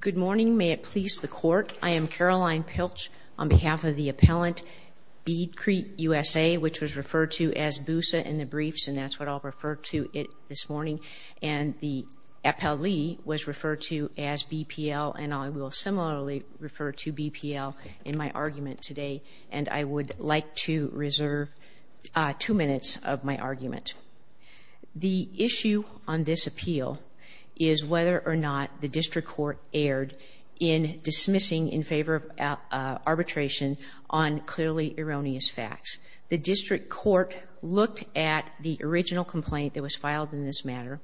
Good morning. May it please the Court, I am Caroline Pilch on behalf of the appellant, Beadcrete USA, which was referred to as BUSA in the briefs, and that's what I'll refer to it this morning, and the appellee was referred to as BPL, and I will similarly refer to BPL in my argument today, and I would like to reserve two minutes of my argument. The issue on this appeal is whether or not the District Court erred in dismissing in favor of arbitration on clearly erroneous facts. The District Court looked at the original complaint that was filed in this matter,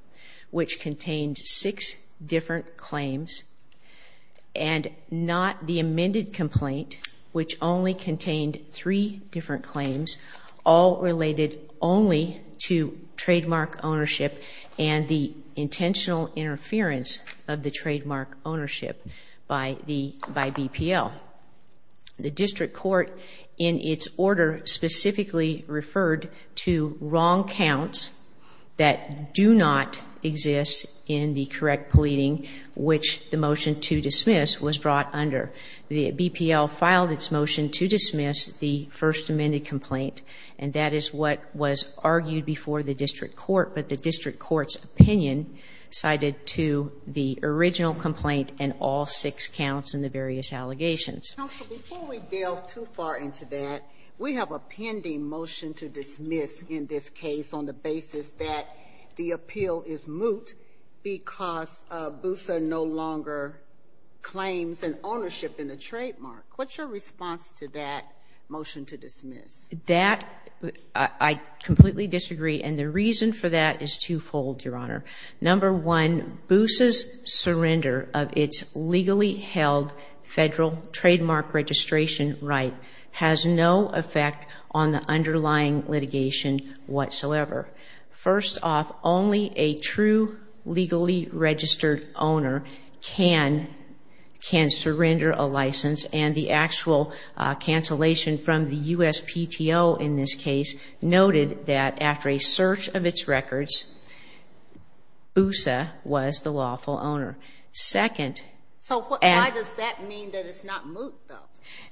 which contained six different claims, and not the amended complaint, which only contained three different claims, all related only to trademark ownership and the intentional interference of the trademark ownership by BPL. The District Court, in its order, specifically referred to wrong counts that do not exist in the correct pleading, which the motion to dismiss was brought under. The BPL filed its motion to dismiss the first amended complaint, and that is what was argued before the District Court, but the District Court's opinion cited to the original complaint and all six counts in the various allegations. Counsel, before we delve too far into that, we have a pending motion to dismiss in this What's your response to that motion to dismiss? That, I completely disagree, and the reason for that is twofold, Your Honor. Number one, Boosa's surrender of its legally held federal trademark registration right has no effect on the underlying litigation whatsoever. First off, only a true legally registered owner can surrender a license, and the actual cancellation from the USPTO in this case noted that after a search of its records, Boosa was the lawful owner. Second, So why does that mean that it's not moot, though?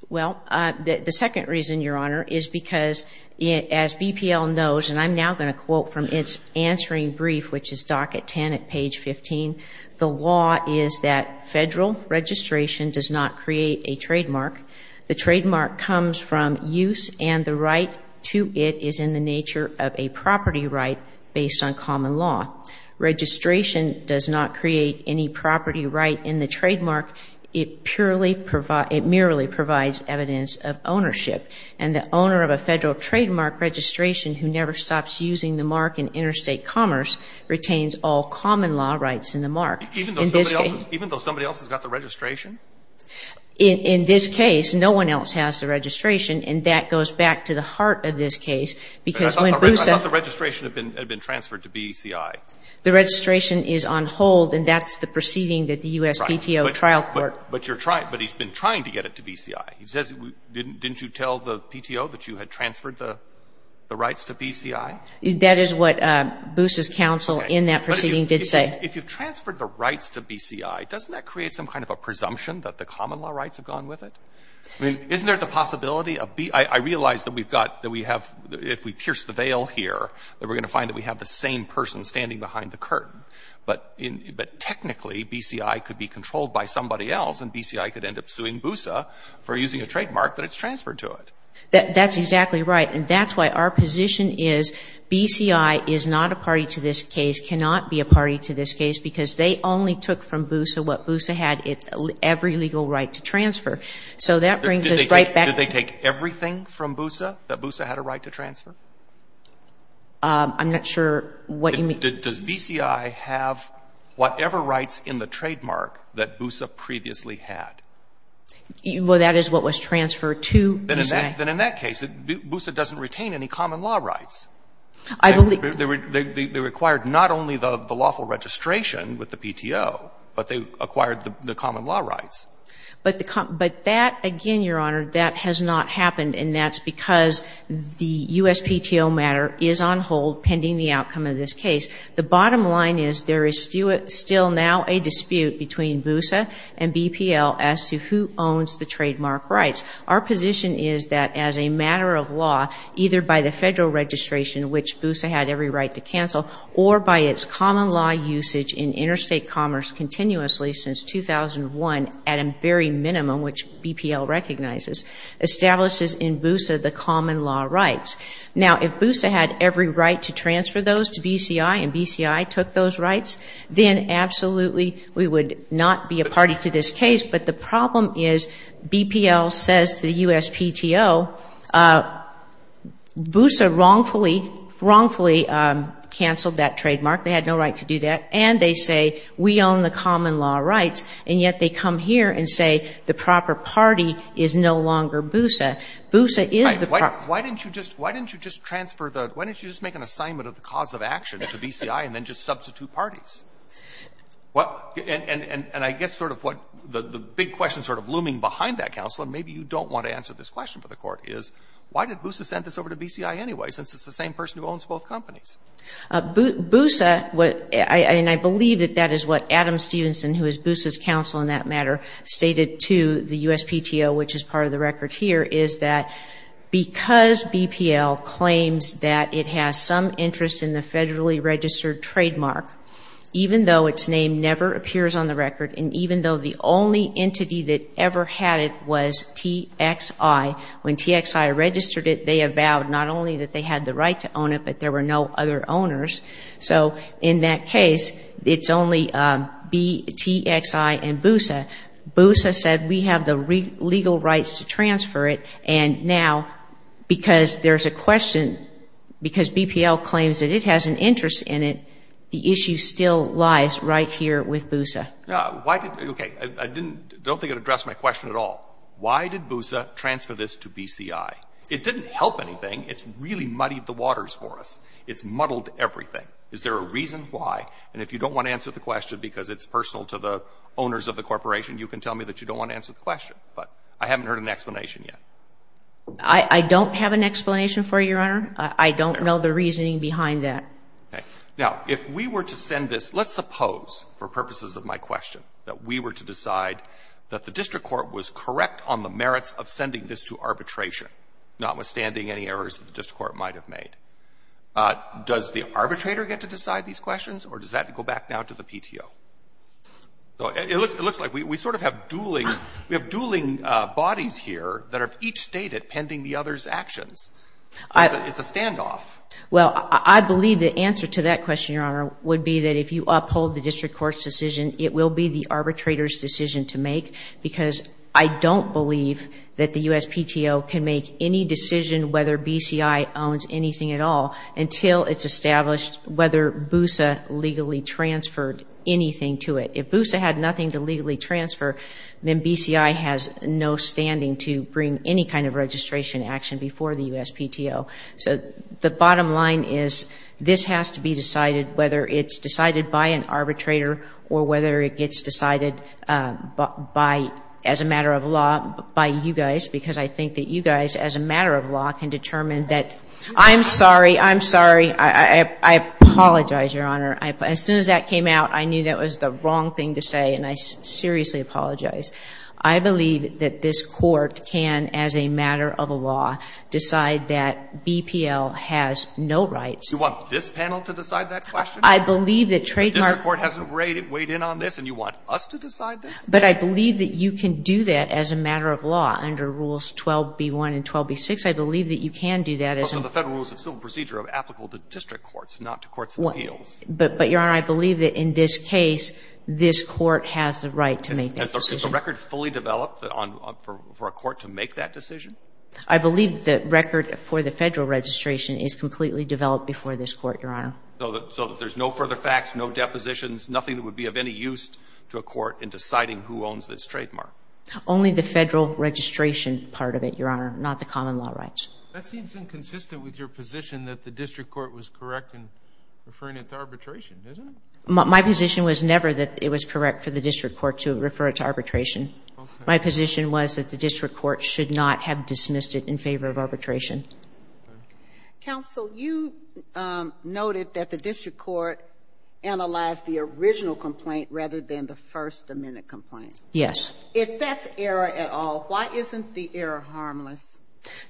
Well, the second reason, Your Honor, is because as BPL knows, and I'm now going to quote from its answering brief, which is docket 10 at page 15, the law is that federal registration does not create a trademark. The trademark comes from use, and the right to it is in the nature of a property right based on common law. Registration does not create any property right in the trademark. It merely provides evidence of ownership, and the owner of a federal trademark registration who never stops using the mark in interstate commerce retains all common law rights in the mark. Even though somebody else has got the registration? In this case, no one else has the registration, and that goes back to the heart of this case because when Boosa I thought the registration had been transferred to BCI. The registration is on hold, and that's the proceeding that the U.S. PTO trial court But you're trying, but he's been trying to get it to BCI. He says, didn't you tell the PTO that you had transferred the rights to BCI? That is what Boosa's counsel in that proceeding did say. If you've transferred the rights to BCI, doesn't that create some kind of a presumption that the common law rights have gone with it? I mean, isn't there the possibility of B, I realize that we've got, that we have, if we pierce the veil here, that we're going to find that we have the same person standing behind the curtain. But technically, BCI could be controlled by somebody else, and BCI could end up suing Boosa for using a trademark that it's transferred to it. That's exactly right. And that's why our position is BCI is not a party to this case, cannot be a party to this case, because they only took from Boosa what Boosa had, every legal right to transfer. So that brings us right back to the case. Does that mean from Boosa that Boosa had a right to transfer? I'm not sure what you mean. Does BCI have whatever rights in the trademark that Boosa previously had? Well, that is what was transferred to BCI. Then in that case, Boosa doesn't retain any common law rights. They required not only the lawful registration with the PTO, but they acquired the common law rights. But that, again, Your Honor, that has not happened. And that's because the USPTO matter is on hold pending the outcome of this case. The bottom line is there is still now a dispute between Boosa and BPL as to who owns the trademark rights. Our position is that as a matter of law, either by the federal registration, which Boosa had every right to cancel, or by its common law usage in interstate commerce continuously since 2001 at a very minimum, which BPL recognizes, establishes in Boosa the common law rights. Now, if Boosa had every right to transfer those to BCI and BCI took those rights, then absolutely we would not be a party to this case. But the problem is BPL says to the USPTO, Boosa wrongfully canceled that trademark. They had no right to do that. And they say, we own the common law rights. And yet they come here and say the proper party is no longer Boosa. Boosa is the proper party. Why didn't you just transfer the, why didn't you just make an assignment of the cause of action to BCI and then just substitute parties? Well, and I guess sort of what the big question sort of looming behind that counsel, and maybe you don't want to answer this question for the court, is why did Boosa send this over to BCI anyway, since it's the same person who owns both companies? Boosa, and I believe that that is what Adam Stevenson, who is Boosa's counsel in that matter, stated to the USPTO, which is part of the record here, is that because BPL claims that it has some interest in the federally registered trademark, even though its name never appears on the record, and even though the only entity that ever had it was TXI, when TXI registered it, they avowed not only that they had the right to own it, but there were no other owners. So in that case, it's only TXI and Boosa. Boosa said, we have the legal rights to transfer it. And now, because there's a question, because BPL claims that it has an interest in it, the issue still lies right here with Boosa. Now, why did, okay, I didn't, I don't think it addressed my question at all. Why did Boosa transfer this to BCI? It didn't help anything. It's really muddied the waters for us. It's muddled everything. Is there a reason why? And if you don't want to answer the question because it's personal to the owners of the corporation, you can tell me that you don't want to answer the question. But I haven't heard an explanation yet. I don't have an explanation for you, Your Honor. I don't know the reasoning behind that. Okay. Now, if we were to send this, let's suppose, for purposes of my question, that we were to decide that the district court was correct on the merits of sending this to arbitration, notwithstanding any errors that the district court might have made, does the arbitrator get to decide these questions, or does that go back now to the PTO? So it looks like we sort of have dueling, we have dueling bodies here that are each stated pending the other's actions. It's a standoff. Well, I believe the answer to that question, Your Honor, would be that if you uphold the district court's decision, it will be the arbitrator's decision to make, because I don't believe that the USPTO can make any decision whether BCI owns anything at all until it's established whether BUSA legally transferred anything to it. If BUSA had nothing to legally transfer, then BCI has no standing to bring any kind of registration action before the USPTO. So the bottom line is, this has to be decided, whether it's decided by an arbitrator, or whether it gets decided by, as a matter of law, by you guys, because I think that you guys, as a matter of law, can determine that. I'm sorry, I'm sorry. I apologize, Your Honor. As soon as that came out, I knew that was the wrong thing to say, and I seriously apologize. I believe that this court can, as a matter of law, decide that BPL has no rights. You want this panel to decide that question? I believe that trademark court hasn't weighed in on this, and you want us to decide this? But I believe that you can do that, as a matter of law, under Rules 12B1 and 12B6. I believe that you can do that. Well, so the federal rules of civil procedure are applicable to district courts, not to courts of appeals. But, Your Honor, I believe that, in this case, this court has the right to make that decision. Is the record fully developed for a court to make that decision? I believe the record for the federal registration is completely developed before this court, Your Honor. So that there's no further facts, no depositions, nothing that would be of any use to a court in deciding who owns this trademark? Only the federal registration part of it, Your Honor, not the common law rights. That seems inconsistent with your position that the district court was correct in referring it to arbitration, isn't it? My position was never that it was correct for the district court to refer it to arbitration. My position was that the district court should not have dismissed it in favor of arbitration. Counsel, you noted that the district court analyzed the original complaint rather than the first amended complaint. Yes. If that's error at all, why isn't the error harmless?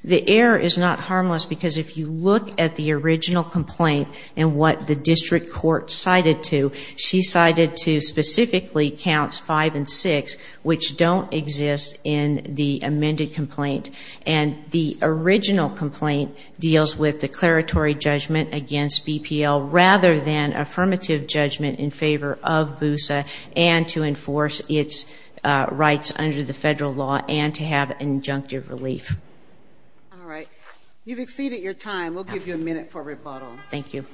The error is not harmless because if you look at the original complaint and what the district court cited to, she cited to specifically counts five and six, which don't exist in the amended complaint. And the original complaint deals with declaratory judgment against BPL rather than affirmative judgment in favor of BUSA and to enforce its rights under the federal law and to have injunctive relief. All right. You've exceeded your time. We'll give you a minute for rebuttal. Thank you.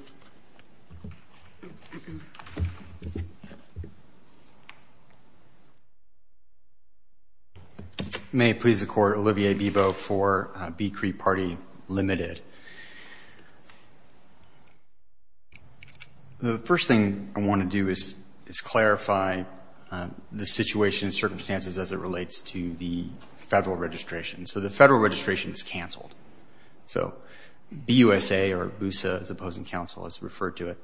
May it please the court, Olivier Bebo for Beecree Party Limited. The first thing I want to do is clarify the situation and circumstances as it relates to the federal registration. So the federal registration is canceled. So BUSA or BUSA, as opposing counsel has referred to it,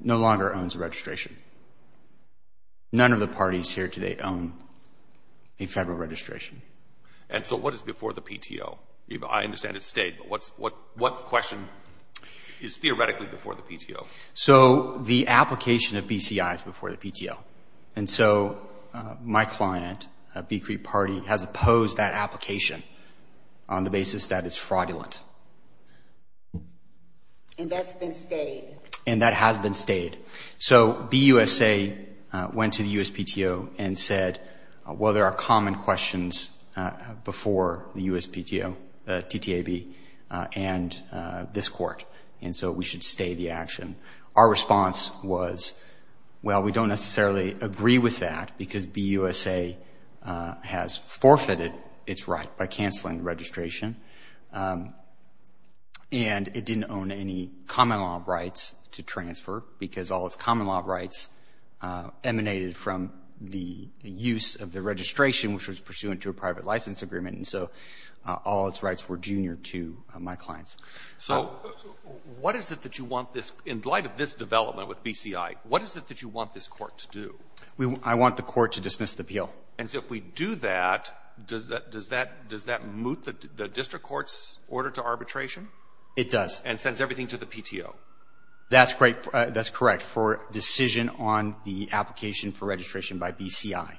no longer owns a registration. None of the parties here today own a federal registration. And so what is before the PTO? I understand it's state, but what question is theoretically before the PTO? So the application of BCI is before the PTO. And so my client, Beecree Party, has opposed that application on the basis that it's fraudulent. And that's been stayed? And that has been stayed. So BUSA went to the USPTO and said, well, there are common questions before the USPTO, the TTAB, and this court. And so we should stay the action. Our response was, well, we don't necessarily agree with that because BUSA has forfeited its right by canceling the registration. And it didn't own any common law rights to transfer because all its common law rights emanated from the use of the registration, which was pursuant to a private license agreement. And so all its rights were junior to my client's. So what is it that you want this, in light of this development with BCI, what is it that you want this court to do? I want the court to dismiss the appeal. And so if we do that, does that, does that, does that moot the district court's order to arbitration? It does. And sends everything to the PTO? That's great. That's correct. For decision on the application for registration by BCI.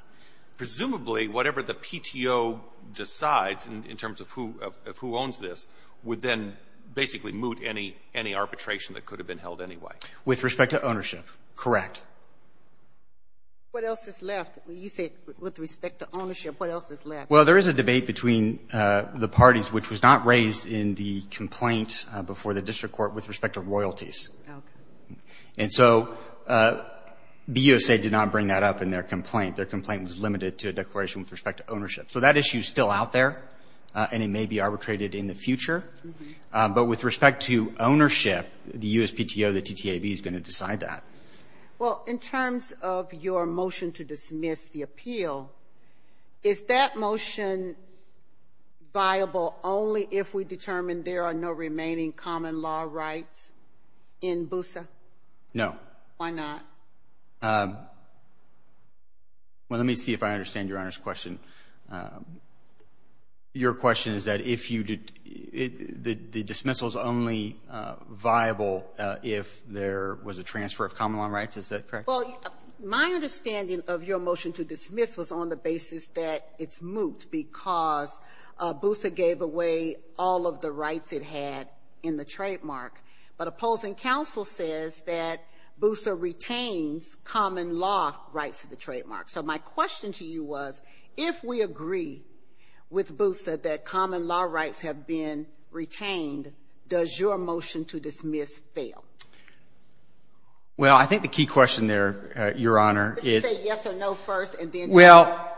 Presumably, whatever the PTO decides in terms of who, of who owns this, would then basically moot any, any arbitration that could have been held anyway. With respect to ownership, correct. What else is left? When you say with respect to ownership, what else is left? Well, there is a debate between the parties, which was not raised in the complaint before the district court with respect to royalties. And so BUSA did not bring that up in their complaint. Their complaint was limited to a declaration with respect to ownership. So that issue is still out there, and it may be arbitrated in the future. But with respect to ownership, the USPTO, the TTAB is going to decide that. Well, in terms of your motion to dismiss the appeal, is that motion viable only if we determine there are no remaining common law rights in BUSA? No. Why not? Well, let me see if I understand Your Honor's question. Your question is that if you did, the dismissal is only viable if there was a transfer of common law rights. Is that correct? Well, my understanding of your motion to dismiss was on the basis that it's moot because BUSA gave away all of the rights it had in the trademark. But opposing counsel says that BUSA retains common law rights to the trademark. So my question to you was, if we agree with BUSA that common law rights have been retained, does your motion to dismiss fail? Well, I think the key question there, Your Honor, is... Say yes or no first, and then tell me. Well,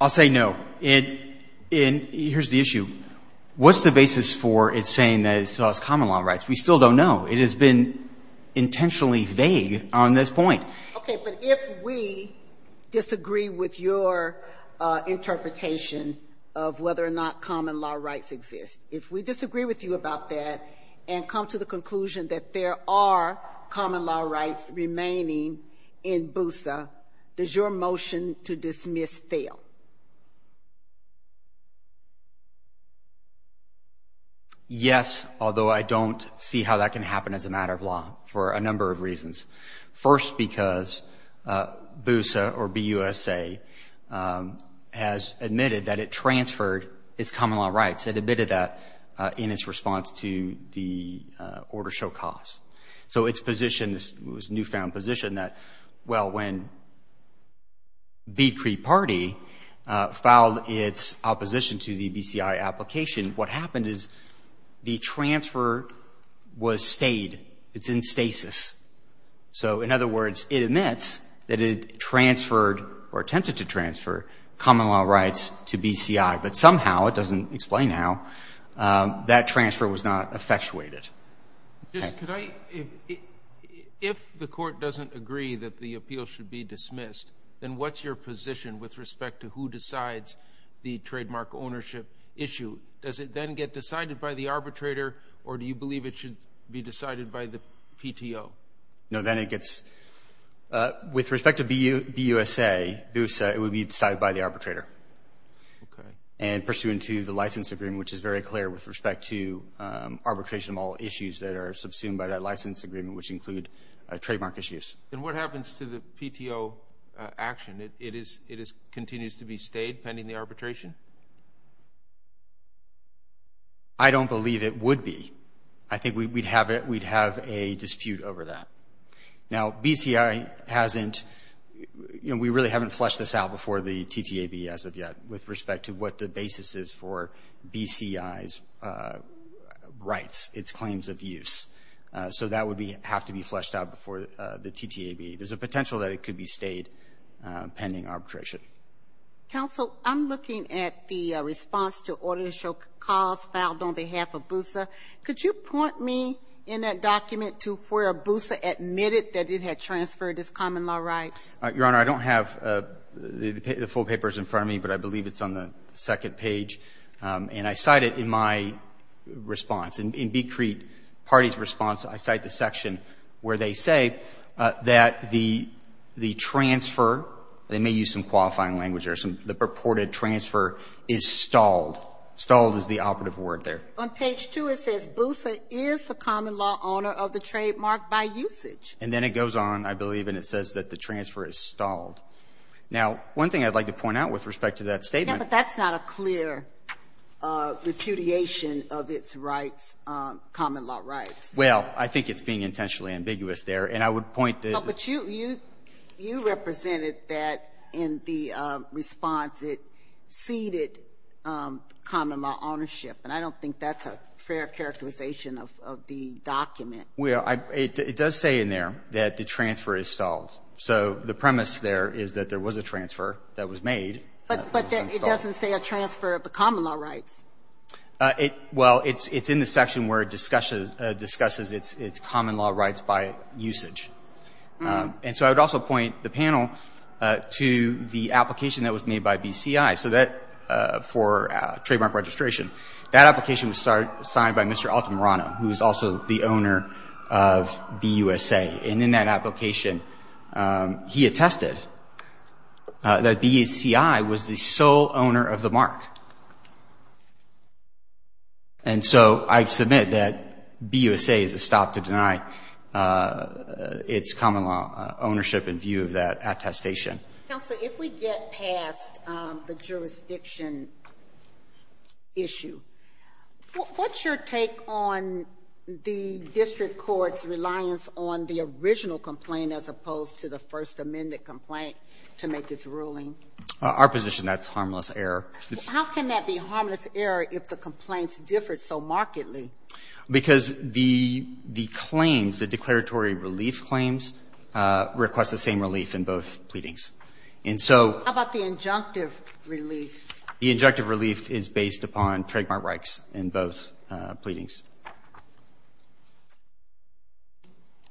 I'll say no. And here's the issue. What's the basis for it saying that it still has common law rights? We still don't know. It has been intentionally vague on this point. Okay. But if we disagree with your interpretation of whether or not common law rights exist, if we disagree with you about that and come to the conclusion that there are common law rights remaining in BUSA, does your motion to dismiss fail? Yes, although I don't see how that can happen as a matter of law for a number of reasons. First because BUSA, or B-U-S-A, has admitted that it transferred its common law rights. It admitted that in its response to the order show cause. So its position was a newfound position that, well, when B Cree Party filed its opposition to the BCI application, what happened is the transfer was stayed. It's in stasis. So in other words, it admits that it transferred, or attempted to transfer, common law rights to BCI. But somehow, it doesn't explain how, that transfer was not effectuated. If the court doesn't agree that the appeal should be dismissed, then what's your position with respect to who decides the trademark ownership issue? Does it then get decided by the arbitrator, or do you believe it should be decided by the PTO? No, then it gets, with respect to BUSA, it would be decided by the arbitrator. And pursuant to the license agreement, which is very clear with respect to arbitration of all issues that are subsumed by that license agreement, which include trademark issues. And what happens to the PTO action? It continues to be stayed pending the arbitration? I don't believe it would be. I think we'd have a dispute over that. Now BCI hasn't, you know, we really haven't fleshed this out before the TTAB as of yet, with respect to what the basis is for BCI's rights, its claims of use. So that would be, have to be fleshed out before the TTAB. There's a potential that it could be stayed pending arbitration. Counsel, I'm looking at the response to Audit and Show Cause filed on behalf of BUSA. Could you point me in that document to where BUSA admitted that it had transferred its common law rights? Your Honor, I don't have the full papers in front of me, but I believe it's on the second page, and I cite it in my response. In Becrete Party's response, I cite the section where they say that the transfer they may use some qualifying language there, the purported transfer is stalled. Stalled is the operative word there. On page 2, it says BUSA is the common law owner of the trademark by usage. And then it goes on, I believe, and it says that the transfer is stalled. Now, one thing I'd like to point out with respect to that statement. Yeah, but that's not a clear repudiation of its rights, common law rights. Well, I think it's being intentionally ambiguous there, and I would point to the But you represented that in the response. It ceded common law ownership, and I don't think that's a fair characterization of the document. Well, it does say in there that the transfer is stalled. So the premise there is that there was a transfer that was made. But it doesn't say a transfer of the common law rights. Well, it's in the section where it discusses its common law rights by usage. And so I would also point the panel to the application that was made by BCI. So that for trademark registration, that application was signed by Mr. Altamirano, who is also the owner of BUSA. And in that application, he attested that BCI was the sole owner of the mark. And so I submit that BUSA is a stop to deny its common law ownership in view of that attestation. Counsel, if we get past the jurisdiction issue, what's your take on the district court's reliance on the original complaint as opposed to the First Amendment complaint to make its ruling? Our position, that's harmless error. How can that be harmless error if the complaints differed so markedly? Because the claims, the declaratory relief claims, request the same relief in both pleadings. And so how about the injunctive relief? The injunctive relief is based upon trademark rights in both pleadings.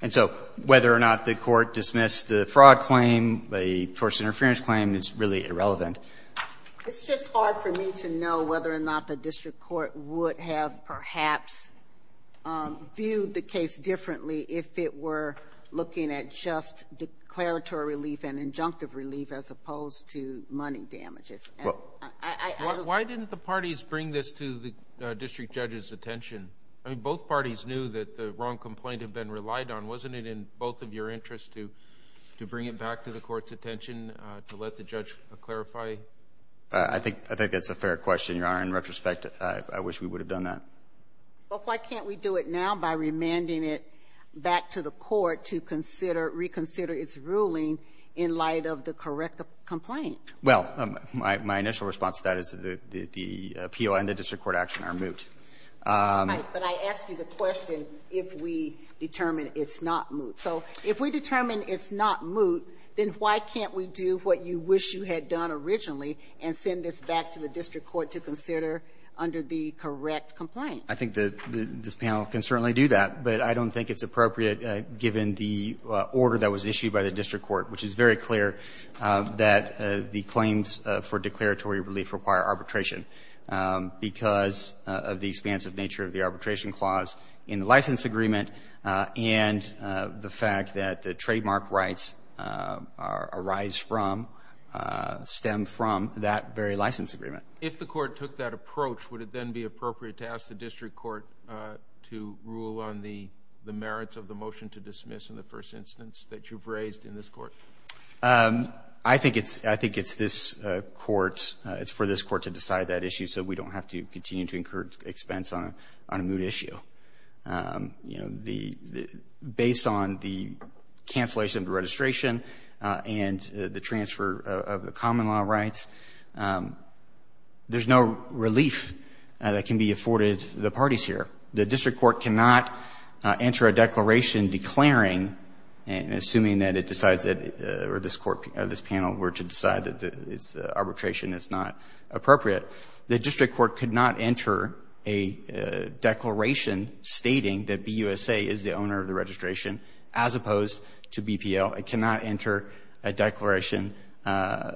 And so whether or not the court dismissed the fraud claim, the tortuous interference claim, is really irrelevant. It's just hard for me to know whether or not the district court would have, perhaps, viewed the case differently if it were looking at just declaratory relief and injunctive relief as opposed to money damages. Why didn't the parties bring this to the district judge's attention? I mean, both parties knew that the wrong complaint had been relied on. Wasn't it in both of your interests to bring it back to the court's attention to let the judge clarify? I think that's a fair question, Your Honor. In retrospect, I wish we would have done that. But why can't we do it now by remanding it back to the court to reconsider its ruling in light of the correct complaint? Well, my initial response to that is that the appeal and the district court action are moot. All right, but I ask you the question if we determine it's not moot. So if we determine it's not moot, then why can't we do what you wish you had done originally and send this back to the district court to consider under the correct complaint? I think that this panel can certainly do that, but I don't think it's appropriate given the order that was issued by the district court, which is very clear that the claims for declaratory relief require arbitration because of the expansive nature of the arbitration clause in the license agreement and the fact that the trademark rights arise from, stem from that very license agreement. If the court took that approach, would it then be appropriate to ask the district court to rule on the merits of the motion to dismiss in the first instance that you've raised in this court? I think it's this court, it's for this court to decide that issue, so we don't have to continue to incur expense on a moot issue. Based on the cancellation of the registration and the transfer of the common law rights, there's no relief that can be afforded the parties here. The district court cannot enter a declaration declaring and assuming that it decides that, or this panel were to decide that arbitration is not appropriate. The district court could not enter a declaration stating that BUSA is the owner of the registration, as opposed to BPL, it cannot enter a declaration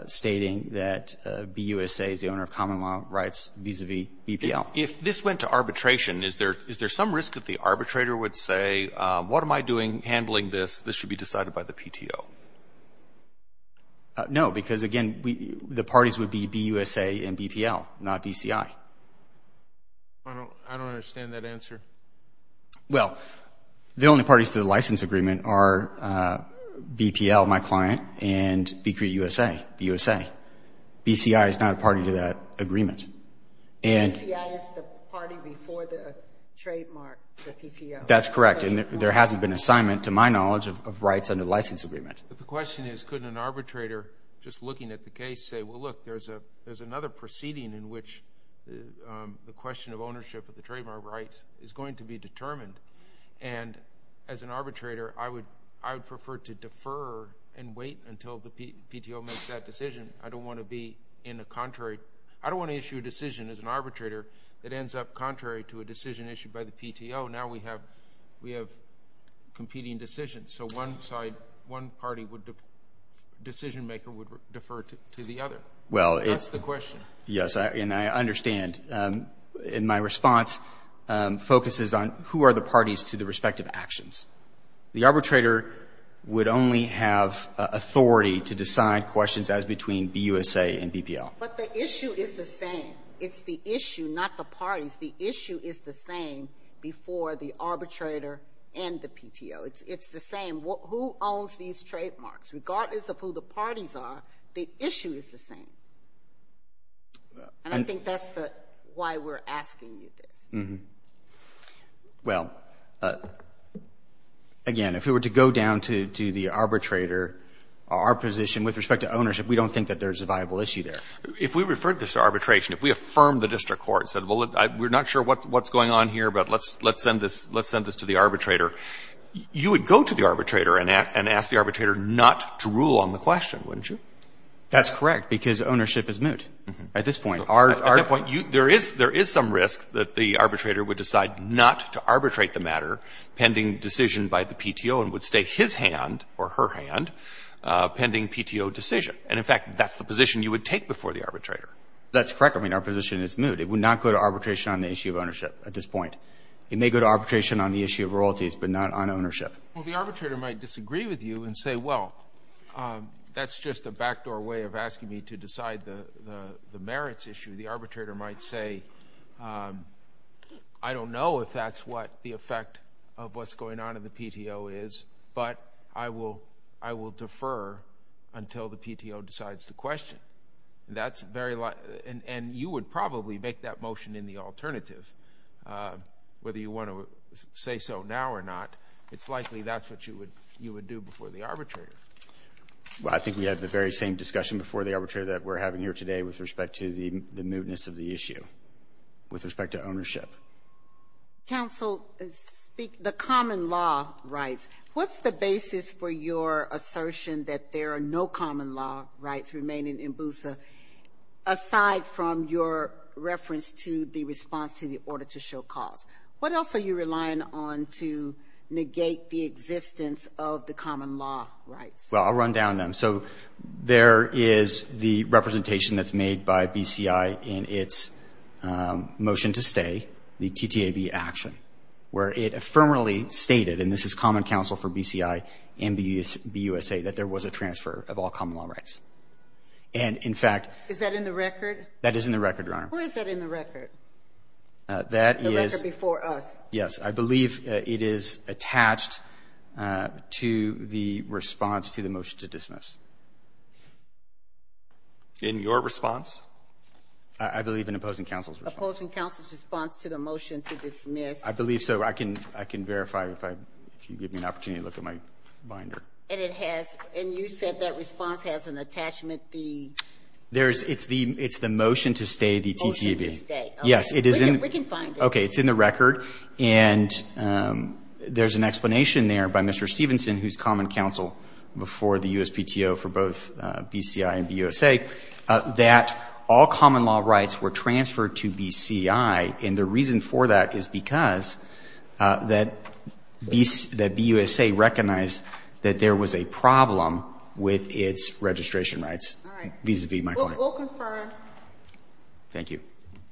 stating that BUSA is the owner of common law rights vis-a-vis BPL. If this went to arbitration, is there some risk that the arbitrator would say, what am I doing handling this? This should be decided by the PTO. No, because again, the parties would be BUSA and BPL, not BCI. I don't understand that answer. Well, the only parties to the license agreement are BPL, my client, and BCUSA. BUSA. BCI is not a party to that agreement. And- BCI is the party before the trademark, the PTO. That's correct, and there hasn't been an assignment, to my knowledge, of rights under the license agreement. But the question is, could an arbitrator, just looking at the case, say, well, look, there's another proceeding in which the question of ownership of BUSA is going to be determined, and as an arbitrator, I would prefer to defer and wait until the PTO makes that decision. I don't want to be in a contrary, I don't want to issue a decision as an arbitrator that ends up contrary to a decision issued by the PTO. Now we have competing decisions. So one party decision maker would defer to the other. That's the question. Yes, and I understand, and my response focuses on who are the parties to the respective actions. The arbitrator would only have authority to decide questions as between BUSA and BPL. But the issue is the same. It's the issue, not the parties. The issue is the same before the arbitrator and the PTO. It's the same. Who owns these trademarks? Regardless of who the parties are, the issue is the same. And I think that's why we're asking you this. Well, again, if we were to go down to the arbitrator, our position with respect to ownership, we don't think that there's a viable issue there. If we referred this to arbitration, if we affirmed the district court and said, well, we're not sure what's going on here, but let's send this to the arbitrator, you would go to the arbitrator and ask the arbitrator not to rule on the question, wouldn't you? That's correct, because ownership is moot at this point. At that point, there is some risk that the arbitrator would decide not to arbitrate the matter pending decision by the PTO and would stay his hand or her hand pending PTO decision. And in fact, that's the position you would take before the arbitrator. That's correct. I mean, our position is moot. It would not go to arbitration on the issue of ownership at this point. It may go to arbitration on the issue of royalties, but not on ownership. Well, the arbitrator might disagree with you and say, well, that's just a backdoor way of asking me to decide the merits issue. The arbitrator might say, I don't know if that's what the effect of what's going on in the PTO is, but I will defer until the PTO decides the question. And that's very likely, and you would probably make that motion in the alternative, whether you want to say so now or not. It's likely that's what you would you would do before the arbitrator. Well, I think we have the very same discussion before the arbitrator that we're having here today with respect to the mootness of the issue with respect to ownership. Counsel, the common law rights, what's the basis for your assertion that there are no common law rights remaining in BUSA aside from your reference to the response to the order to show cause? What else are you relying on to negate the existence of the common law rights? Well, I'll run down them. So there is the representation that's made by BCI in its motion to stay, the TTAB action, where it affirmatively stated, and this is common counsel for BCI and BUSA, that there was a transfer of all common law rights. And in fact, is that in the record? That is in the record, Your Honor. Where is that in the record? That is before us. Yes, I believe it is attached to the response to the motion to dismiss. In your response, I believe in opposing counsel's opposing counsel's response to the motion to dismiss, I believe so. I can I can verify if I if you give me an opportunity to look at my binder. And it has. And you said that response has an attachment. The there is it's the it's the motion to stay. The TTAB. Yes, it is. And we can find it. OK, it's in the record. And there's an explanation there by Mr. Stevenson, who's common counsel before the USPTO for both BCI and BUSA, that all common law rights were transferred to BCI. And the reason for that is because that BUSA recognized that there was a problem with its registration rights vis-a-vis my client. We'll confirm. Thank you.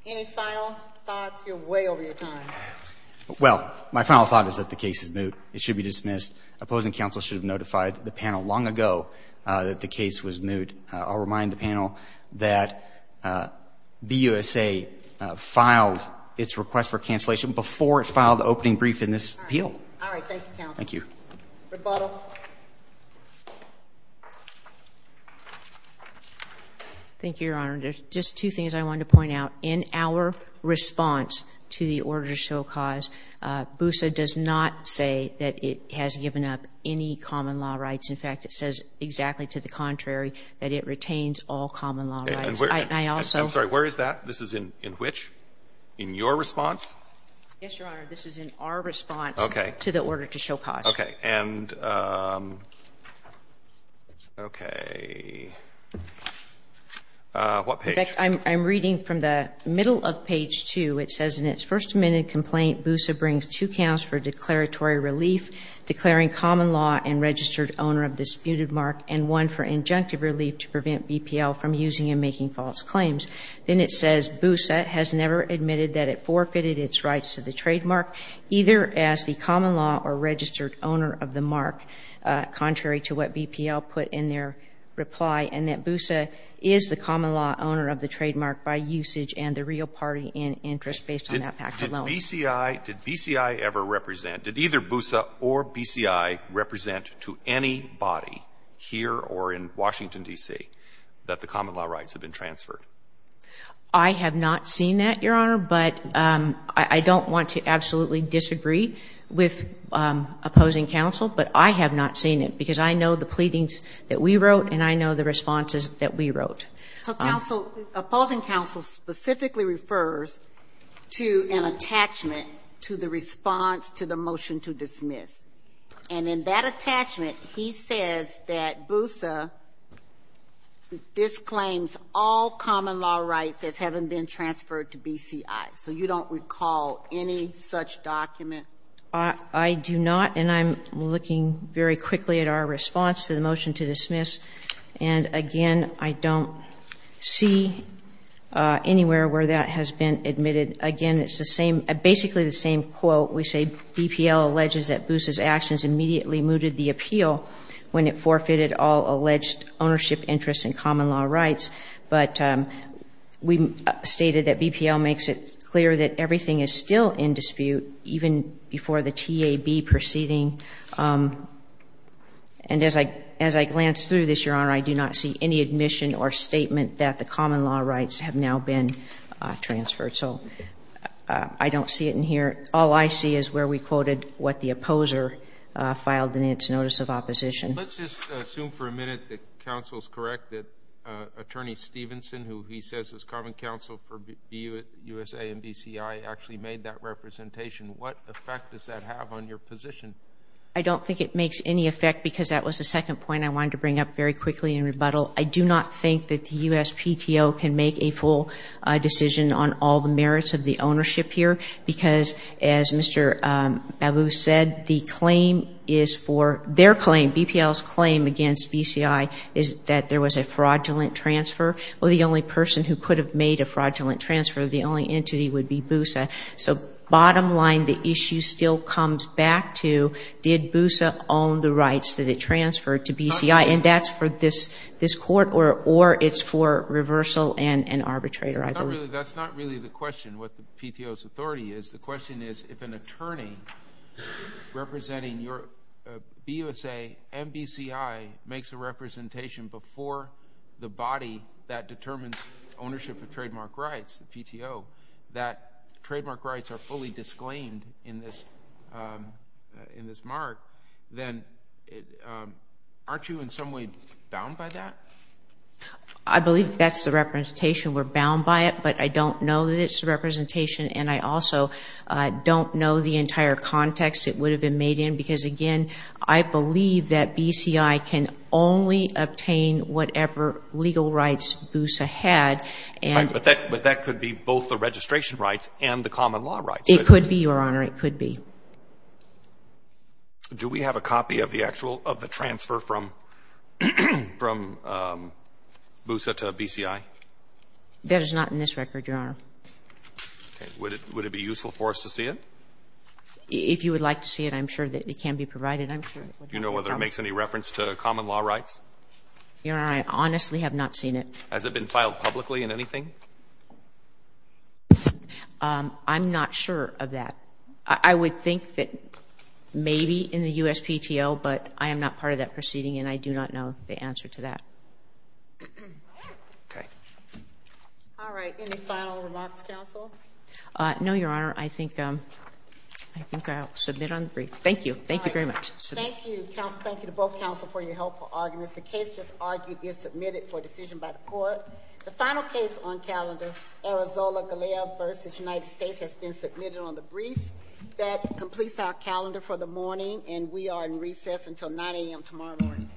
Any final thoughts? You're way over your time. Well, my final thought is that the case is moot. It should be dismissed. Opposing counsel should have notified the panel long ago that the case was moot. I'll remind the panel that BUSA filed its request for cancellation before it filed the opening brief in this appeal. All right. Thank you. Rebuttal. Thank you, Your Honor. There's just two things I want to point out. In our response to the order to show cause, BUSA does not say that it has given up any common law rights. In fact, it says exactly to the contrary that it retains all common law rights. And I also... I'm sorry, where is that? This is in which? In your response? Yes, Your Honor. OK. And I'm going to go back to the original question, which is, what is the reason for this? OK. What page? In fact, I'm reading from the middle of page two. It says, in its first minute complaint, BUSA brings two counts for declaratory relief, declaring common law and registered owner of disputed mark, and one for injunctive relief to prevent BPL from using and making false claims. Then it says, BUSA has never admitted that it forfeited its rights to the trademark, either as the common law or registered owner of the mark, contrary to what BPL put in their reply, and that BUSA is the common law owner of the trademark by usage and the real party in interest based on that fact alone. Did BCI ever represent, did either BUSA or BCI represent to anybody here or in Washington, D.C., that the common law rights have been transferred? I have not seen that, Your Honor, but I don't want to absolutely disagree with opposing counsel, but I have not seen it because I know the pleadings that we wrote and I know the responses that we wrote. So, counsel, opposing counsel specifically refers to an attachment to the response to the motion to dismiss. And in that attachment, he says that BUSA disclaims all common law rights as having been transferred to BCI. So, you don't recall any such document? I do not, and I'm looking very quickly at our response to the motion to dismiss. And again, I don't see anywhere where that has been admitted. Again, it's the same, basically the same quote. We say BPL alleges that BUSA's actions immediately mooted the appeal when it forfeited all alleged ownership interests in common law rights. But we stated that BPL makes it clear that everything is still in dispute even before the TAB proceeding. And as I glance through this, Your Honor, I do not see any admission or statement that the common law rights have now been transferred. So, I don't see it in here. All I see is where we quoted what the opposer filed in its notice of opposition. Let's just assume for a minute that counsel's correct that Attorney Stevenson, who he says was common counsel for BUSA and BCI, actually made that representation. What effect does that have on your position? I don't think it makes any effect because that was the second point I wanted to bring up very quickly in rebuttal. I do not think that the USPTO can make a full decision on all the merits of the ownership here because, as Mr. Babu said, the claim is for, their claim, BPL's claim against BCI is that there was a fraudulent transfer. Well, the only person who could have made a fraudulent transfer, the only entity would be BUSA. So, bottom line, the issue still comes back to did BUSA own the rights that it transferred to BCI and that's for this court or it's for reversal and arbitrator, I believe. That's not really the question, what the PTO's authority is. The question is, if an attorney representing your BUSA and BCI makes a representation before the body that determines ownership of trademark rights, the PTO, that trademark rights are fully disclaimed in this mark, then aren't you in some way bound by that? I believe that's the representation. We're bound by it, but I don't know that it's the representation and I also don't know the entire context it would have been made in because, again, I believe that BCI can only obtain whatever legal rights BUSA had and... But that could be both the registration rights and the common law rights. It could be, Your Honor, it could be. Do we have a copy of the actual, of the transfer from BUSA to BCI? That is not in this record, Your Honor. Would it be useful for us to see it? If you would like to see it, I'm sure that it can be provided. Do you know whether it makes any reference to common law rights? Your Honor, I honestly have not seen it. Has it been filed publicly in anything? I'm not sure of that. I would think that maybe in the USPTO, but I am not part of that proceeding and I do not know the answer to that. All right. Any final remarks, Counsel? No, Your Honor. I think I'll submit on the brief. Thank you. Thank you very much. Thank you, Counsel. Thank you to both Counsel for your helpful arguments. The case just argued is submitted for decision by the Court. brief. That completes our calendar for the morning, and we are in recess until 9 a.m. tomorrow morning.